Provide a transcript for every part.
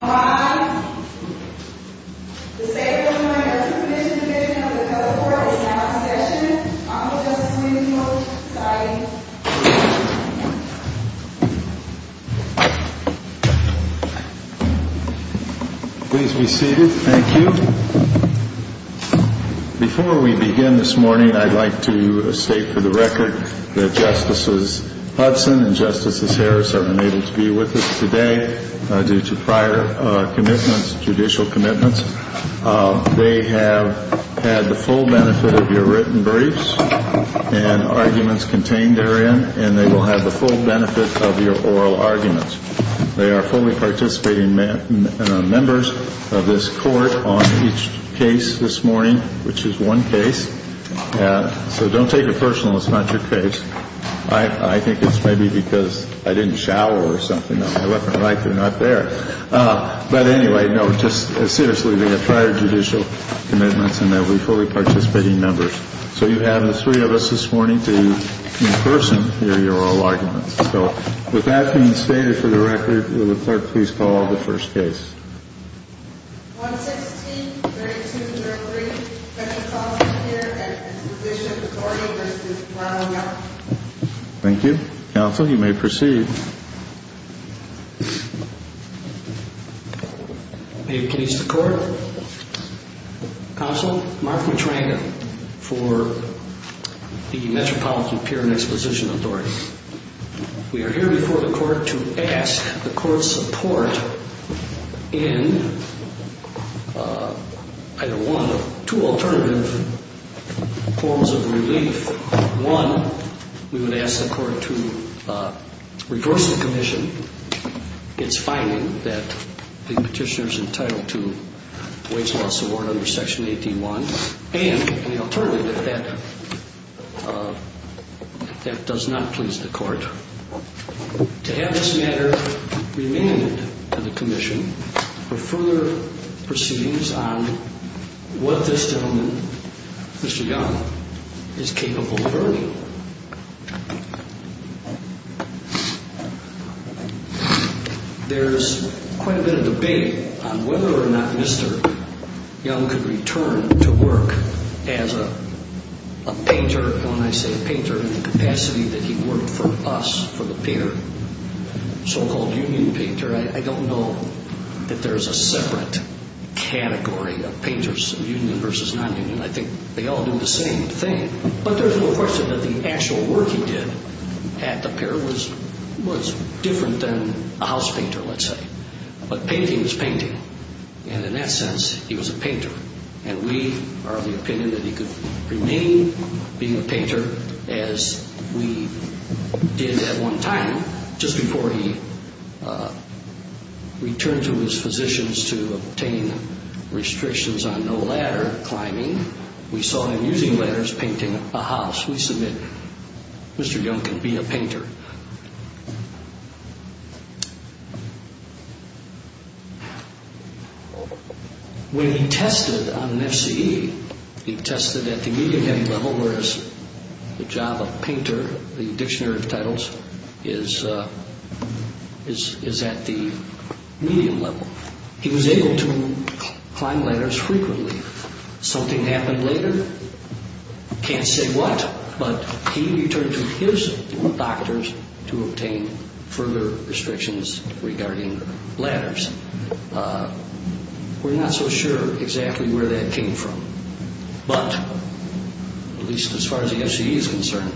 The State Board of Minors and the Commissioned Division of the Code Court is now in session. Honorable Justice Winfield signing. Please be seated. Thank you. Before we begin this morning, I'd like to state for the record that Justices Hudson and Justices Harris are unable to be with us today due to prior commitments, judicial commitments. They have had the full benefit of your written briefs and arguments contained therein, and they will have the full benefit of your oral arguments. They are fully participating members of this Court on each case this morning, which is one case, so don't take it personal. It's not your case. I think it's maybe because I didn't shower or something. My weapon of life is not there. But anyway, no, just seriously, they have prior judicial commitments, and they are fully participating members. So you have the three of us this morning to, in person, hear your oral arguments. So with that being stated for the record, will the Clerk please call the first case? 116-3203, Metropolitan Peer and Exposition Authority v. Ronald Young. Thank you. Counsel, you may proceed. May it please the Court. Counsel, Mark Matranda for the Metropolitan Peer and Exposition Authority. We are here before the Court to ask the Court's support in either one of two alternative forms of relief. One, we would ask the Court to reverse the commission, its finding that the petitioner is entitled to wage loss award under Section 18.1, and the alternative, that that does not please the Court, to have this matter remain in the commission for further proceedings on what this gentleman, Mr. Young, is capable of earning. Thank you. There's quite a bit of debate on whether or not Mr. Young could return to work as a painter, when I say painter, in the capacity that he worked for us, for the Peer, so-called union painter. I don't know that there's a separate category of painters, union versus non-union. I think they all do the same thing. But there's no question that the actual work he did at the Peer was different than a house painter, let's say. But painting is painting, and in that sense, he was a painter, and we are of the opinion that he could remain being a painter as we did at one time, Just before he returned to his physicians to obtain restrictions on no ladder climbing, we saw him using ladders painting a house. We submit Mr. Young can be a painter. When he tested on an FCE, he tested at the medium level, whereas the job of painter, the dictionary of titles, is at the medium level. He was able to climb ladders frequently. Something happened later, can't say what, but he returned to his doctors to obtain further restrictions regarding ladders. We're not so sure exactly where that came from, but at least as far as the FCE is concerned,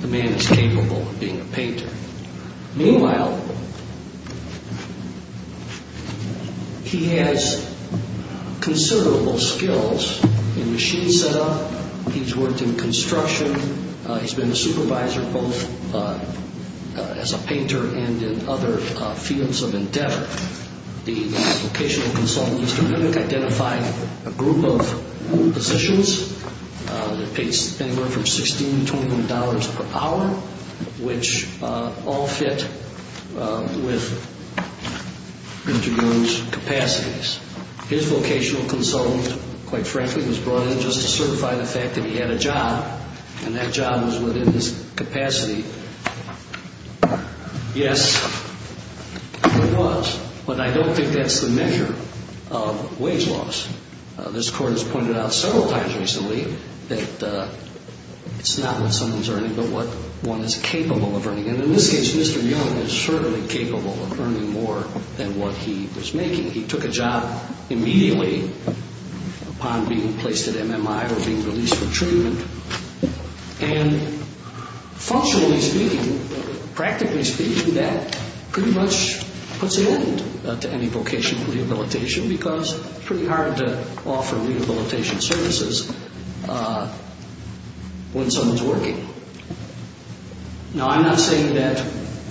the man is capable of being a painter. Meanwhile, he has considerable skills in machine setup, he's worked in construction, he's been a supervisor both as a painter and in other fields of endeavor. The vocational consultant, Mr. Mimick, identified a group of positions that paid anywhere from $16 to $21 per hour, which all fit with Mr. Young's capacities. His vocational consultant, quite frankly, was brought in just to certify the fact that he had a job, and that job was within his capacity. Yes, it was, but I don't think that's the measure of wage loss. This Court has pointed out several times recently that it's not what someone's earning, but what one is capable of earning. And in this case, Mr. Young is certainly capable of earning more than what he was making. He took a job immediately upon being placed at MMI or being released for treatment, and functionally speaking, practically speaking, that pretty much puts an end to any vocational rehabilitation because it's pretty hard to offer rehabilitation services when someone's working. Now, I'm not saying that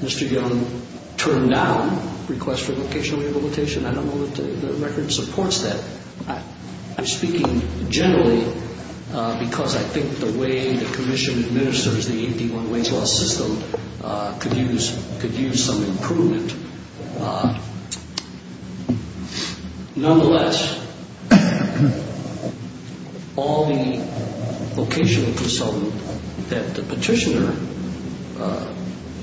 Mr. Young turned down requests for vocational rehabilitation. I don't know that the record supports that. I'm speaking generally because I think the way the Commission administers the 81 wage loss system could use some improvement. Nonetheless, all the vocational consultant that the petitioner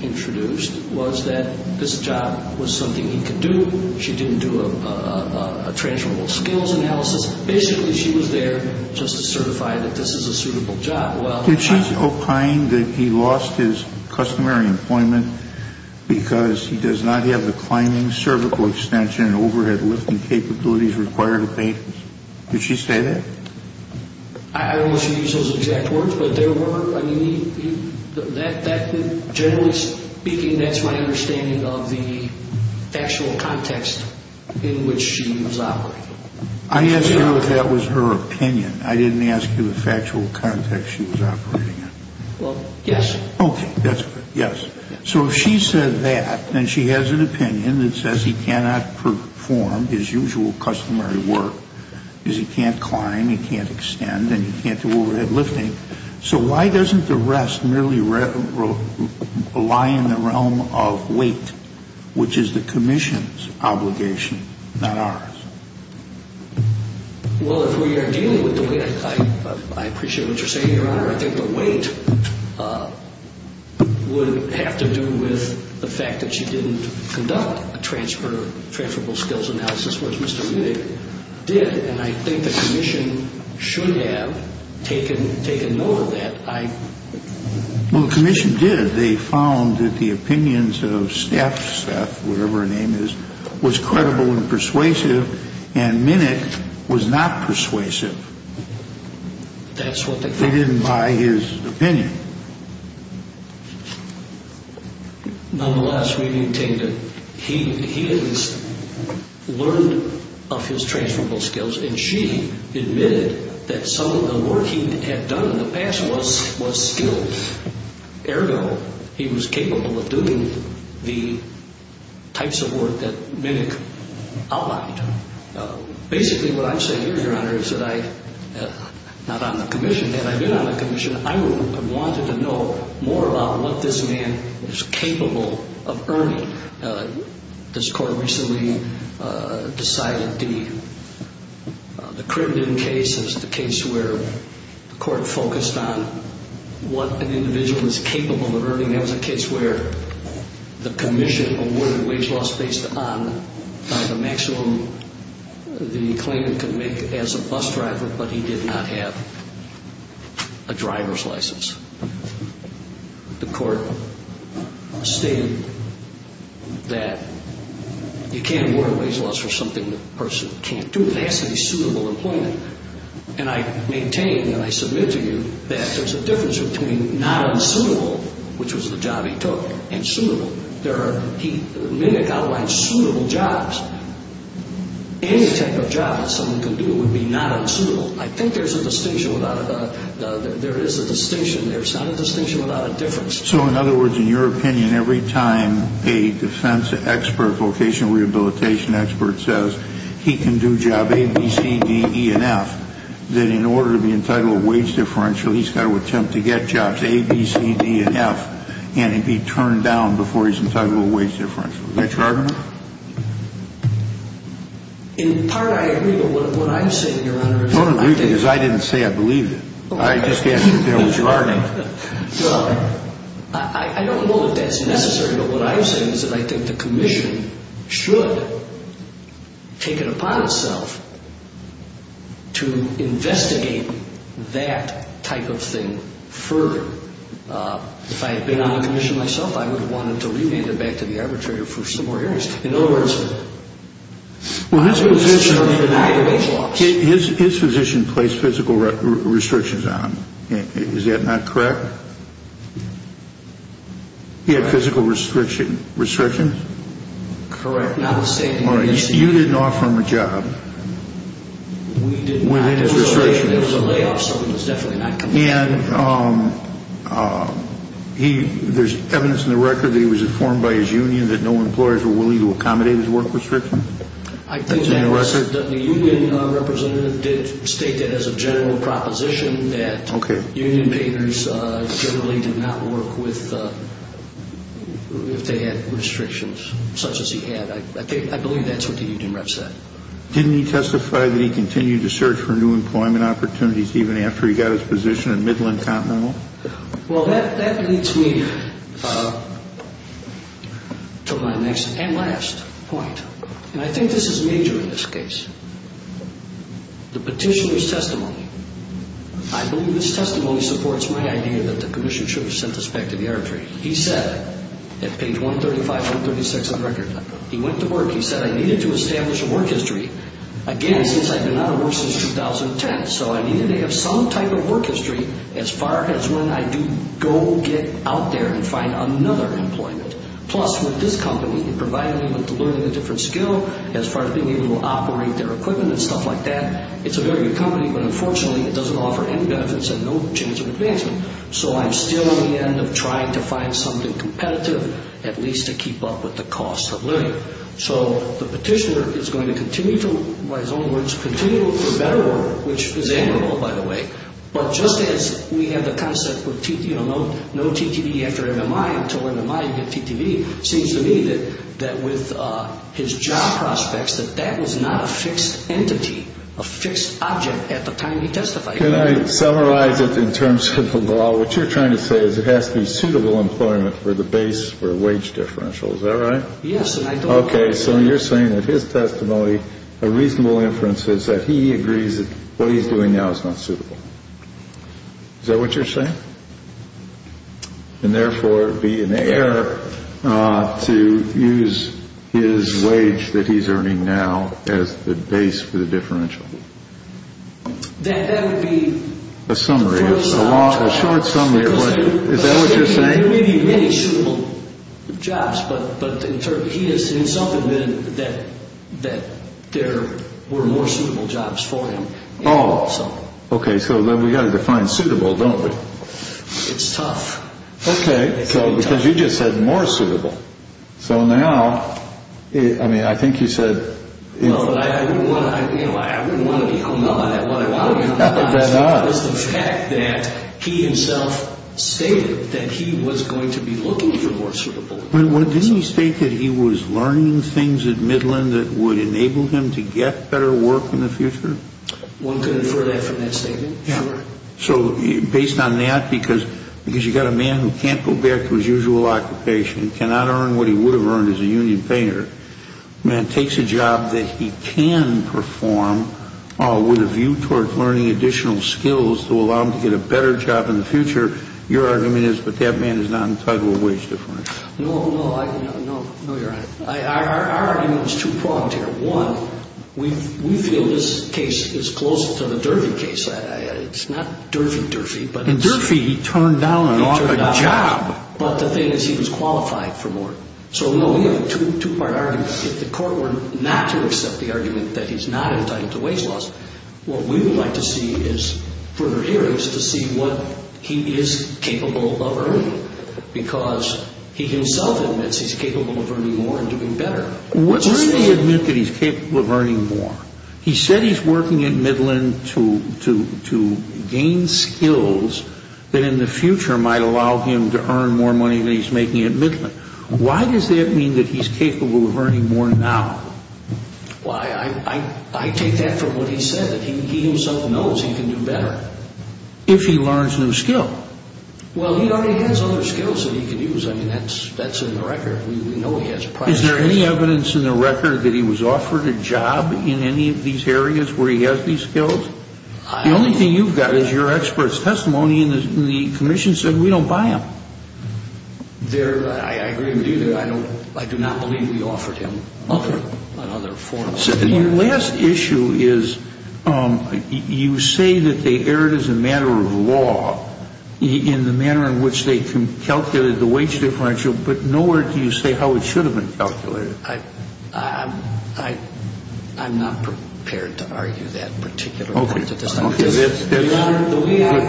introduced was that this job was something he could do. She didn't do a transferable skills analysis. Basically, she was there just to certify that this is a suitable job. Did she opine that he lost his customary employment because he does not have the climbing cervical extension and overhead lifting capabilities required to pay him? Did she say that? I don't know if she used those exact words, but there were, I mean, generally speaking, that's my understanding of the factual context in which she was operating. I asked her if that was her opinion. I didn't ask you the factual context she was operating in. Well, yes. Okay. That's good. Yes. So if she said that and she has an opinion that says he cannot perform his usual customary work because he can't climb, he can't extend, and he can't do overhead lifting, so why doesn't the rest merely lie in the realm of weight, which is the Commission's obligation, not ours? Well, if we are dealing with the weight, I appreciate what you're saying, Your Honor. I think the weight would have to do with the fact that she didn't conduct a transferable skills analysis, which Mr. Wittig did, and I think the Commission should have taken note of that. Well, the Commission did. They found that the opinions of Steph, whatever her name is, was credible and persuasive, and Minnick was not persuasive. That's what they found. They didn't buy his opinion. Nonetheless, we maintain that he has learned of his transferable skills, and she admitted that some of the work he had done in the past was skilled, ergo he was capable of doing the types of work that Minnick outlined. Basically, what I'm saying here, Your Honor, is that I'm not on the Commission. Had I been on the Commission, I would have wanted to know more about what this man is capable of earning. This Court recently decided the Crittenden case is the case where the Court focused on what an individual is capable of earning. That was a case where the Commission awarded wage loss based on the maximum the claimant could make as a bus driver, but he did not have a driver's license. The Court stated that you can't award wage loss for something a person can't do. It has to be suitable employment. And I maintain and I submit to you that there's a difference between not unsuitable, which was the job he took, and suitable. Minnick outlined suitable jobs. Any type of job that someone could do would be not unsuitable. I think there's a distinction. There is a distinction. There's not a distinction without a difference. So, in other words, in your opinion, every time a defense expert, vocational rehabilitation expert, says he can do job A, B, C, D, E, and F, that in order to be entitled to a wage differential, he's got to attempt to get jobs A, B, C, D, and F, and be turned down before he's entitled to a wage differential. Is that your argument? In part, I agree, but what I'm saying, Your Honor, is that I think... I don't agree because I didn't say I believed it. I just asked if there was your argument. Well, I don't know if that's necessary, but what I'm saying is that I think the Commission should take it upon itself to investigate that type of thing further. If I had been on the Commission myself, I would have wanted to rename it back to the arbitrator for some more hearings. In other words... Well, his position... His position placed physical restrictions on him. Is that not correct? He had physical restrictions? Correct. Not a statement. All right. You didn't offer him a job. We did not. There was a layoff, so it was definitely not... And there's evidence in the record that he was informed by his union that no employers were willing to accommodate his work restrictions? I think that the union representative did state that as a general proposition that union payers generally did not work with... if they had restrictions such as he had. I believe that's what the union rep said. Didn't he testify that he continued to search for new employment opportunities even after he got his position in Midland Continental? Well, that leads me to my next and last point. And I think this is major in this case. The petitioner's testimony. I believe this testimony supports my idea that the Commission should have sent this back to the arbitrator. He said, at page 135-136 on the record, he went to work. He said, I needed to establish a work history. Again, since I've been out of work since 2010, so I needed to have some type of work history as far as when I do go get out there and find another employment. Plus, with this company, it provided me with learning a different skill as far as being able to operate their equipment and stuff like that. It's a very good company, but unfortunately, it doesn't offer any benefits and no chance of advancement. So I'm still at the end of trying to find something competitive, at least to keep up with the cost of living. So the petitioner is going to continue to, by his own words, continue to look for better work, which is admirable, by the way. But just as we have the concept, you know, no TTV after MMI until MMI and then TTV, it seems to me that with his job prospects, that that was not a fixed entity, a fixed object at the time he testified. Can I summarize it in terms of the law? What you're trying to say is it has to be suitable employment for the base for a wage differential. Is that right? Yes. Okay. So you're saying that his testimony, a reasonable inference is that he agrees that what he's doing now is not suitable. Is that what you're saying? And therefore, it would be an error to use his wage that he's earning now as the base for the differential. That would be a summary, a short summary. Is that what you're saying? There may be many suitable jobs, but he has himself admitted that there were more suitable jobs for him. Oh, okay. So we've got to define suitable, don't we? It's tough. Okay, because you just said more suitable. So now, I mean, I think you said. You know, I wouldn't want to be hung up on that. What I want to be hung up on is the fact that he himself stated that he was going to be looking for more suitable. Didn't he state that he was learning things at Midland that would enable him to get better work in the future? One could infer that from that statement. Yeah. So based on that, because you've got a man who can't go back to his usual occupation, cannot earn what he would have earned as a union payer, a man takes a job that he can perform, with a view toward learning additional skills to allow him to get a better job in the future, your argument is that that man is not entitled to a wage difference. No, no. No, you're right. Our argument is two-pronged here. One, we feel this case is closer to the Durfee case. It's not Durfee, Durfee. In Durfee, he turned down a job. But the thing is he was qualified for more. So, no, we have a two-part argument. If the court were not to accept the argument that he's not entitled to wage loss, what we would like to see is further hearings to see what he is capable of earning, because he himself admits he's capable of earning more and doing better. What does he admit that he's capable of earning more? He said he's working at Midland to gain skills that in the future might allow him to earn more money than he's making at Midland. Why does that mean that he's capable of earning more now? Well, I take that from what he said, that he himself knows he can do better. If he learns a new skill. Well, he already has other skills that he can use. I mean, that's in the record. We know he has prior experience. Is there any evidence in the record that he was offered a job in any of these areas where he has these skills? The only thing you've got is your expert's testimony, and the commission said we don't buy him. I agree with you there. I do not believe we offered him another form of employment. Your last issue is you say that they erred as a matter of law in the manner in which they calculated the wage differential, but nowhere do you say how it should have been calculated. I'm not prepared to argue that particular point at this time. Okay. That's a good position. Your Honor, the way I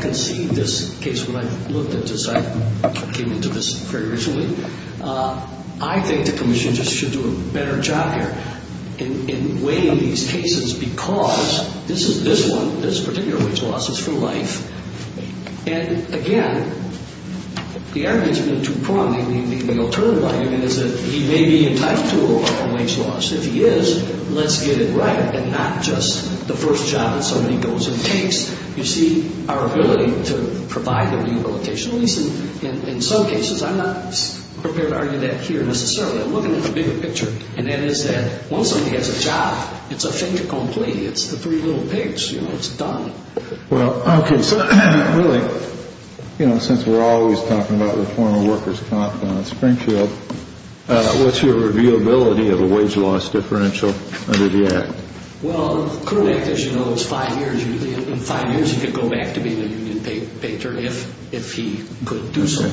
conceived this case when I looked at this, I came into this very recently. I think the commission just should do a better job here in weighing these cases because this is this one, this particular wage loss is for life. And, again, the argument in two prong, the alternative argument is that he may be entitled to a wage loss. If he is, let's get it right and not just the first job that somebody goes and takes. You see, our ability to provide the rehabilitation, at least in some cases, I'm not prepared to argue that here necessarily. I'm looking at the bigger picture, and that is that once somebody has a job, it's a fait accompli. It's the three little pigs, you know, it's done. Well, okay, so really, you know, since we're always talking about the former workers' comp on Springfield, what's your reviewability of a wage loss differential under the Act? Well, the current Act, as you know, is five years. In five years, he could go back to being a union patron if he could do so.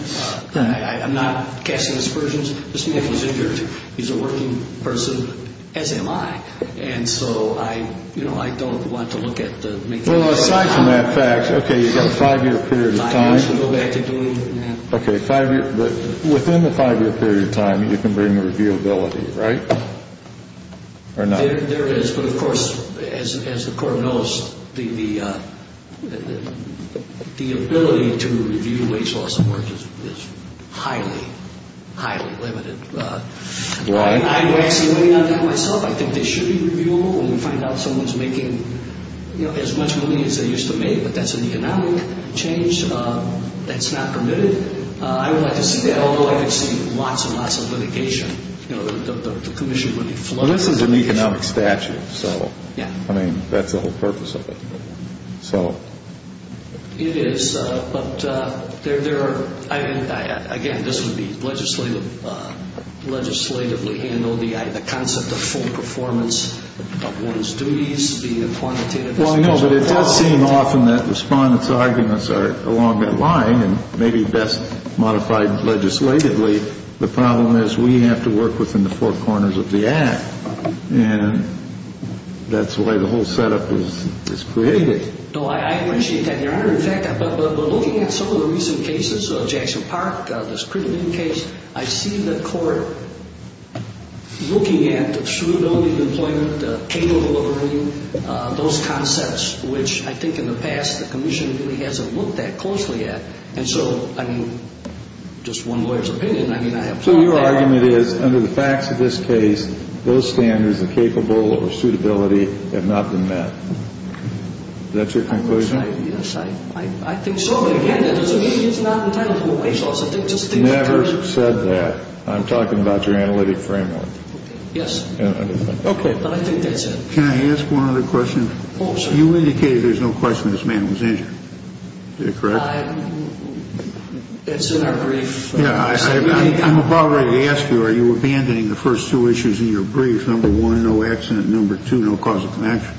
I'm not casting aspersions. This man was injured. He's a working person, as am I. And so I, you know, I don't want to look at the main thing. Well, aside from that fact, okay, you've got a five-year period of time. Five years to go back to doing that. Okay, five years. But within the five-year period of time, you can bring the reviewability, right, or not? There is. But, of course, as the Court knows, the ability to review wage loss is highly, highly limited. Right. I'm actually weighing on that myself. I think they should be reviewable when we find out someone's making, you know, as much money as they used to make. But that's an economic change. That's not permitted. I would like to see that, although I could see lots and lots of litigation. You know, the commission would be flooded. Well, this is an economic statute, so. Yeah. I mean, that's the whole purpose of it. So. It is, but there are, again, this would be legislatively handled. The concept of full performance of one's duties, the quantitative. Well, I know, but it does seem often that respondents' arguments are along that line and maybe best modified legislatively. The problem is we have to work within the four corners of the act. And that's the way the whole setup is created. No, I appreciate that, Your Honor. In fact, looking at some of the recent cases, Jackson Park, the Spriggan case, I see the Court looking at the shrewd only employment, the cable ordering, those concepts, which I think in the past the commission really hasn't looked that closely at. And so, I mean, just one lawyer's opinion, I mean, I have found that. So your argument is, under the facts of this case, those standards of capable or suitability have not been met. That's your conclusion? Yes, I think so. But, again, it's not an intangible resource. I think just the nature. You never said that. I'm talking about your analytic framework. Okay. Yes. Okay. But I think that's it. Can I ask one other question? Oh, sure. You indicated there's no question this man was injured. Is that correct? It's in our brief. Yeah. I'm about ready to ask you, are you abandoning the first two issues in your brief, number one, no accident, number two, no cause of connection?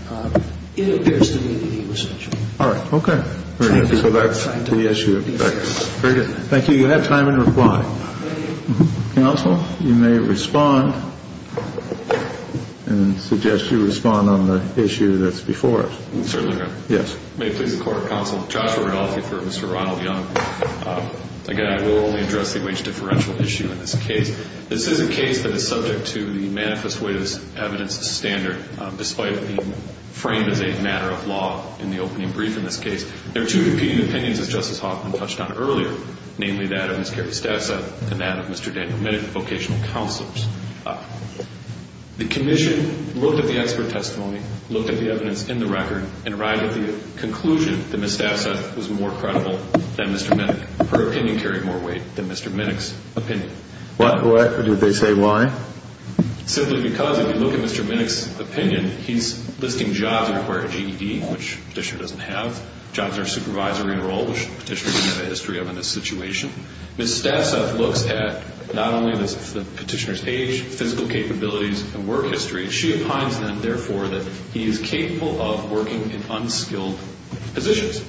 It appears to me that he was injured. All right. Okay. Thank you. So that's the issue. Very good. Thank you. You have time in reply. Counsel, you may respond and suggest you respond on the issue that's before us. Certainly, Your Honor. Yes. May it please the Court of Counsel, Joshua Rodolphe for Mr. Ronald Young. Again, I will only address the wage differential issue in this case. This is a case that is subject to the manifest witness evidence standard, despite it being framed as a matter of law in the opening brief in this case. There are two competing opinions, as Justice Hoffman touched on earlier, namely that of Ms. Carrie Stassa and that of Mr. Daniel Minnick, vocational counselors. The commission looked at the expert testimony, looked at the evidence in the record, and arrived at the conclusion that Ms. Stassa was more credible than Mr. Minnick. Her opinion carried more weight than Mr. Minnick's opinion. Why would they say why? Simply because if you look at Mr. Minnick's opinion, he's listing jobs that require GED, which the petitioner doesn't have, jobs in a supervisory role, which the petitioner doesn't have a history of in this situation. Ms. Stassa looks at not only the petitioner's age, physical capabilities, and work history. She opines, then, therefore, that he is capable of working in unskilled positions.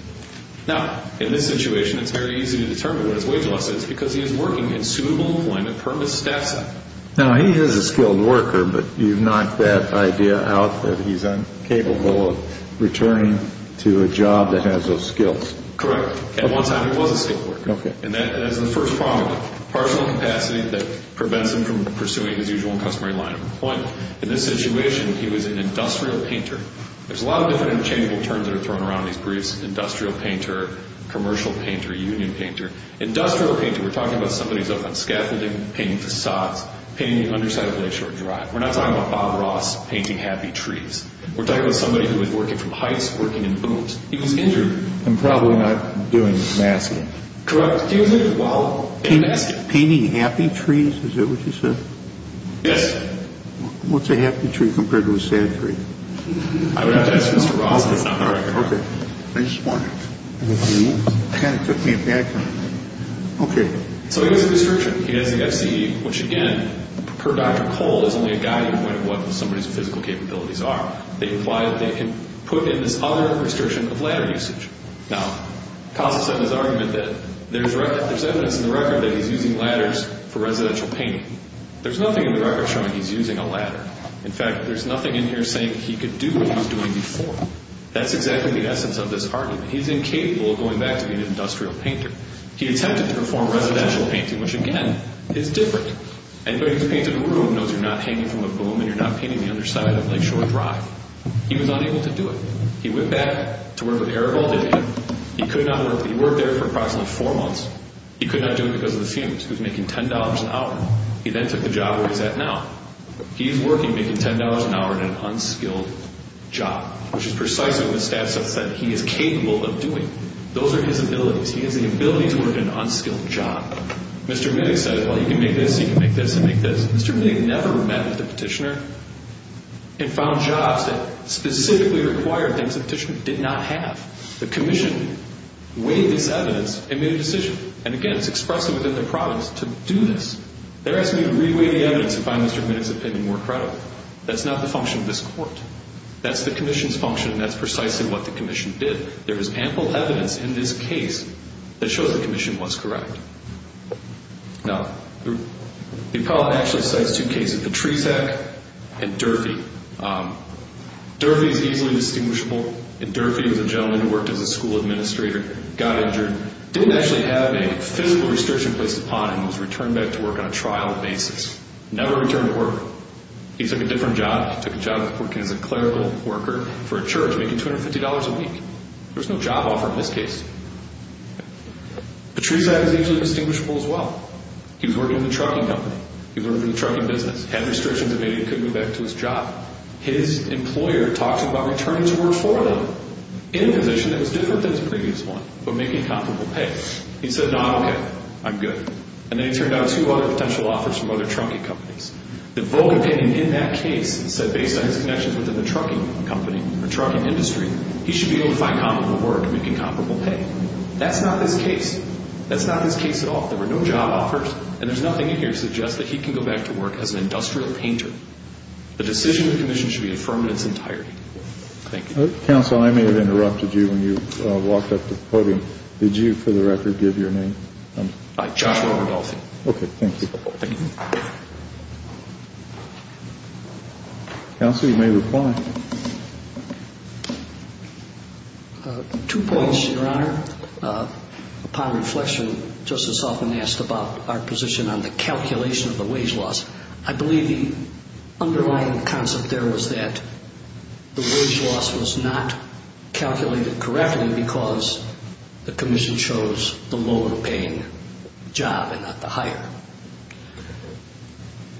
Now, in this situation, it's very easy to determine what his wage loss is because he is working in suitable employment per Ms. Stassa. Now, he is a skilled worker, but you've knocked that idea out that he's incapable of returning to a job that has those skills. Correct. At one time he was a skilled worker. Okay. And that is the first problem, partial capacity that prevents him from pursuing his usual customary line of employment. In this situation, he was an industrial painter. There's a lot of different interchangeable terms that are thrown around in these briefs, industrial painter, commercial painter, union painter. Industrial painter, we're talking about somebody who's up on scaffolding, painting facades, painting the underside of a lakeshore drive. We're not talking about Bob Ross painting happy trees. We're talking about somebody who is working from heights, working in booms. He was injured. And probably not doing masking. Correct. Painting happy trees, is that what you said? Yes. What's a happy tree compared to a sad tree? I would have to ask Mr. Ross. Okay. I just wondered. You kind of took me aback on that. Okay. So he has a restriction. He has the FCE, which again, per Dr. Cole, is only a guiding point of what somebody's physical capabilities are. They imply that they can put in this other restriction of ladder usage. Now, Costis said in his argument that there's evidence in the record that he's using ladders for residential painting. There's nothing in the record showing he's using a ladder. In fact, there's nothing in here saying he could do what he was doing before. That's exactly the essence of this argument. He's incapable of going back to being an industrial painter. He attempted to perform residential painting, which again, is different. Anybody who's painted a room knows you're not hanging from a boom and you're not painting the underside of a lakeshore drive. He was unable to do it. He went back to work with Arabaldivia. He could not work there. He worked there for approximately four months. He could not do it because of the fumes. He was making $10 an hour. He then took the job where he's at now. He's working making $10 an hour in an unskilled job, which is precisely what the stats have said he is capable of doing. Those are his abilities. He has the ability to work in an unskilled job. Mr. Minnick said, well, you can make this, you can make this, you can make this. Mr. Minnick never met with the petitioner and found jobs that specifically required things the petitioner did not have. The commission weighed this evidence and made a decision. And again, it's expressed within the province to do this. They're asking you to re-weigh the evidence and find Mr. Minnick's opinion more credible. That's not the function of this court. That's the commission's function, and that's precisely what the commission did. There is ample evidence in this case that shows the commission was correct. Now, the appellant actually cites two cases, Patricek and Durfee. Durfee is easily distinguishable. Durfee was a gentleman who worked as a school administrator, got injured, didn't actually have a physical restriction placed upon him, was returned back to work on a trial basis, never returned to work. He took a different job. He took a job working as a clerical worker for a church making $250 a week. There was no job offer in this case. Patricek is easily distinguishable as well. He was working for the trucking company. He was working for the trucking business, had restrictions that made him couldn't go back to his job. His employer talked to him about returning to work for them in a position that was different than his previous one, but making comparable pay. He said, no, I'm okay. I'm good. And then he turned down two other potential offers from other trucking companies. The vocal opinion in that case said, based on his connections within the trucking company or trucking industry, he should be able to find comparable work and make incomparable pay. That's not this case. That's not this case at all. There were no job offers, and there's nothing in here to suggest that he can go back to work as an industrial painter. The decision of the commission should be affirmed in its entirety. Thank you. Counsel, I may have interrupted you when you walked up to the podium. Did you, for the record, give your name? Joshua Rudolph. Okay, thank you. Counsel, you may reply. Two points, Your Honor. Upon reflection, Justice Hoffman asked about our position on the calculation of the wage loss. I believe the underlying concept there was that the wage loss was not calculated correctly because the commission chose the lower paying job and not the higher.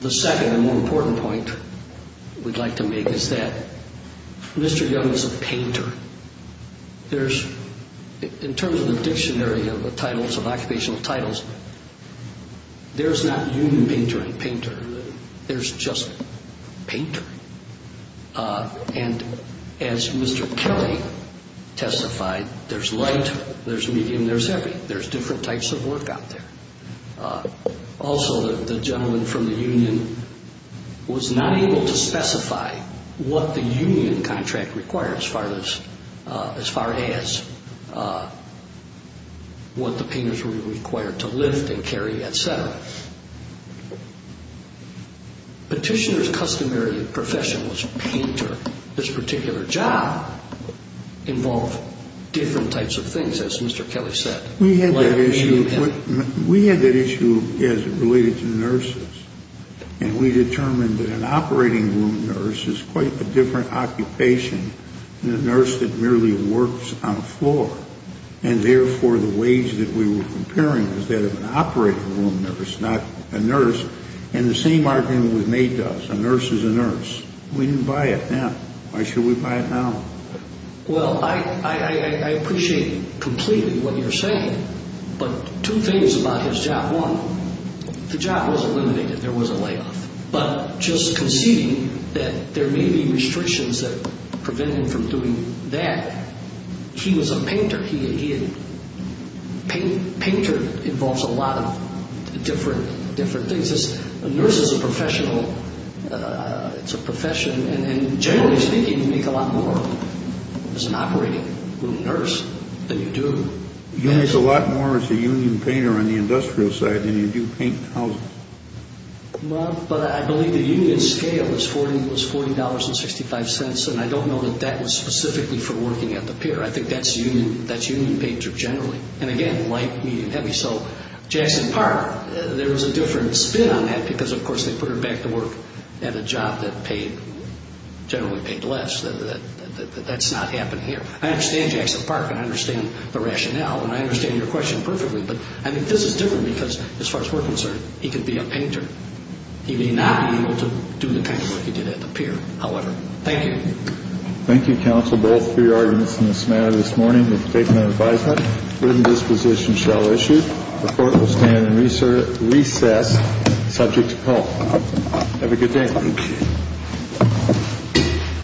The second and more important point we'd like to make is that Mr. Young is a painter. There's, in terms of the dictionary of the titles, of occupational titles, there's not union painter and painter. There's just painter. And as Mr. Kelly testified, there's light, there's medium, there's heavy. There's different types of work out there. Also, the gentleman from the union was not able to specify what the union contract required as far as what the painters were required to lift and carry, et cetera. Petitioner's customary profession was painter. This particular job involved different types of things, as Mr. Kelly said. We had that issue as it related to nurses. And we determined that an operating room nurse is quite a different occupation than a nurse that merely works on the floor. And, therefore, the wage that we were comparing was that of an operating room nurse, not a nurse. And the same argument was made to us. A nurse is a nurse. We didn't buy it then. Why should we buy it now? Well, I appreciate completely what you're saying, but two things about his job. One, the job was eliminated. There was a layoff. But just conceding that there may be restrictions that prevent him from doing that, he was a painter. He, again, painter involves a lot of different things. A nurse is a professional. It's a profession. And generally speaking, you make a lot more as an operating room nurse than you do. You make a lot more as a union painter on the industrial side than you do paint houses. But I believe the union scale was $40.65. And I don't know that that was specifically for working at the pier. I think that's union painter generally. And, again, light, medium, heavy. So Jackson Park, there was a different spin on that because, of course, they put her back to work at a job that paid, generally paid less. That's not happening here. I understand Jackson Park, and I understand the rationale, and I understand your question perfectly. But, I mean, this is different because, as far as we're concerned, he could be a painter. He may not be able to do the kind of work he did at the pier, however. Thank you. Thank you, counsel, both for your arguments in this matter this morning. And with the statement of advisement, written disposition shall issue. The court will stand and recess subject to call. Have a good day. Thank you.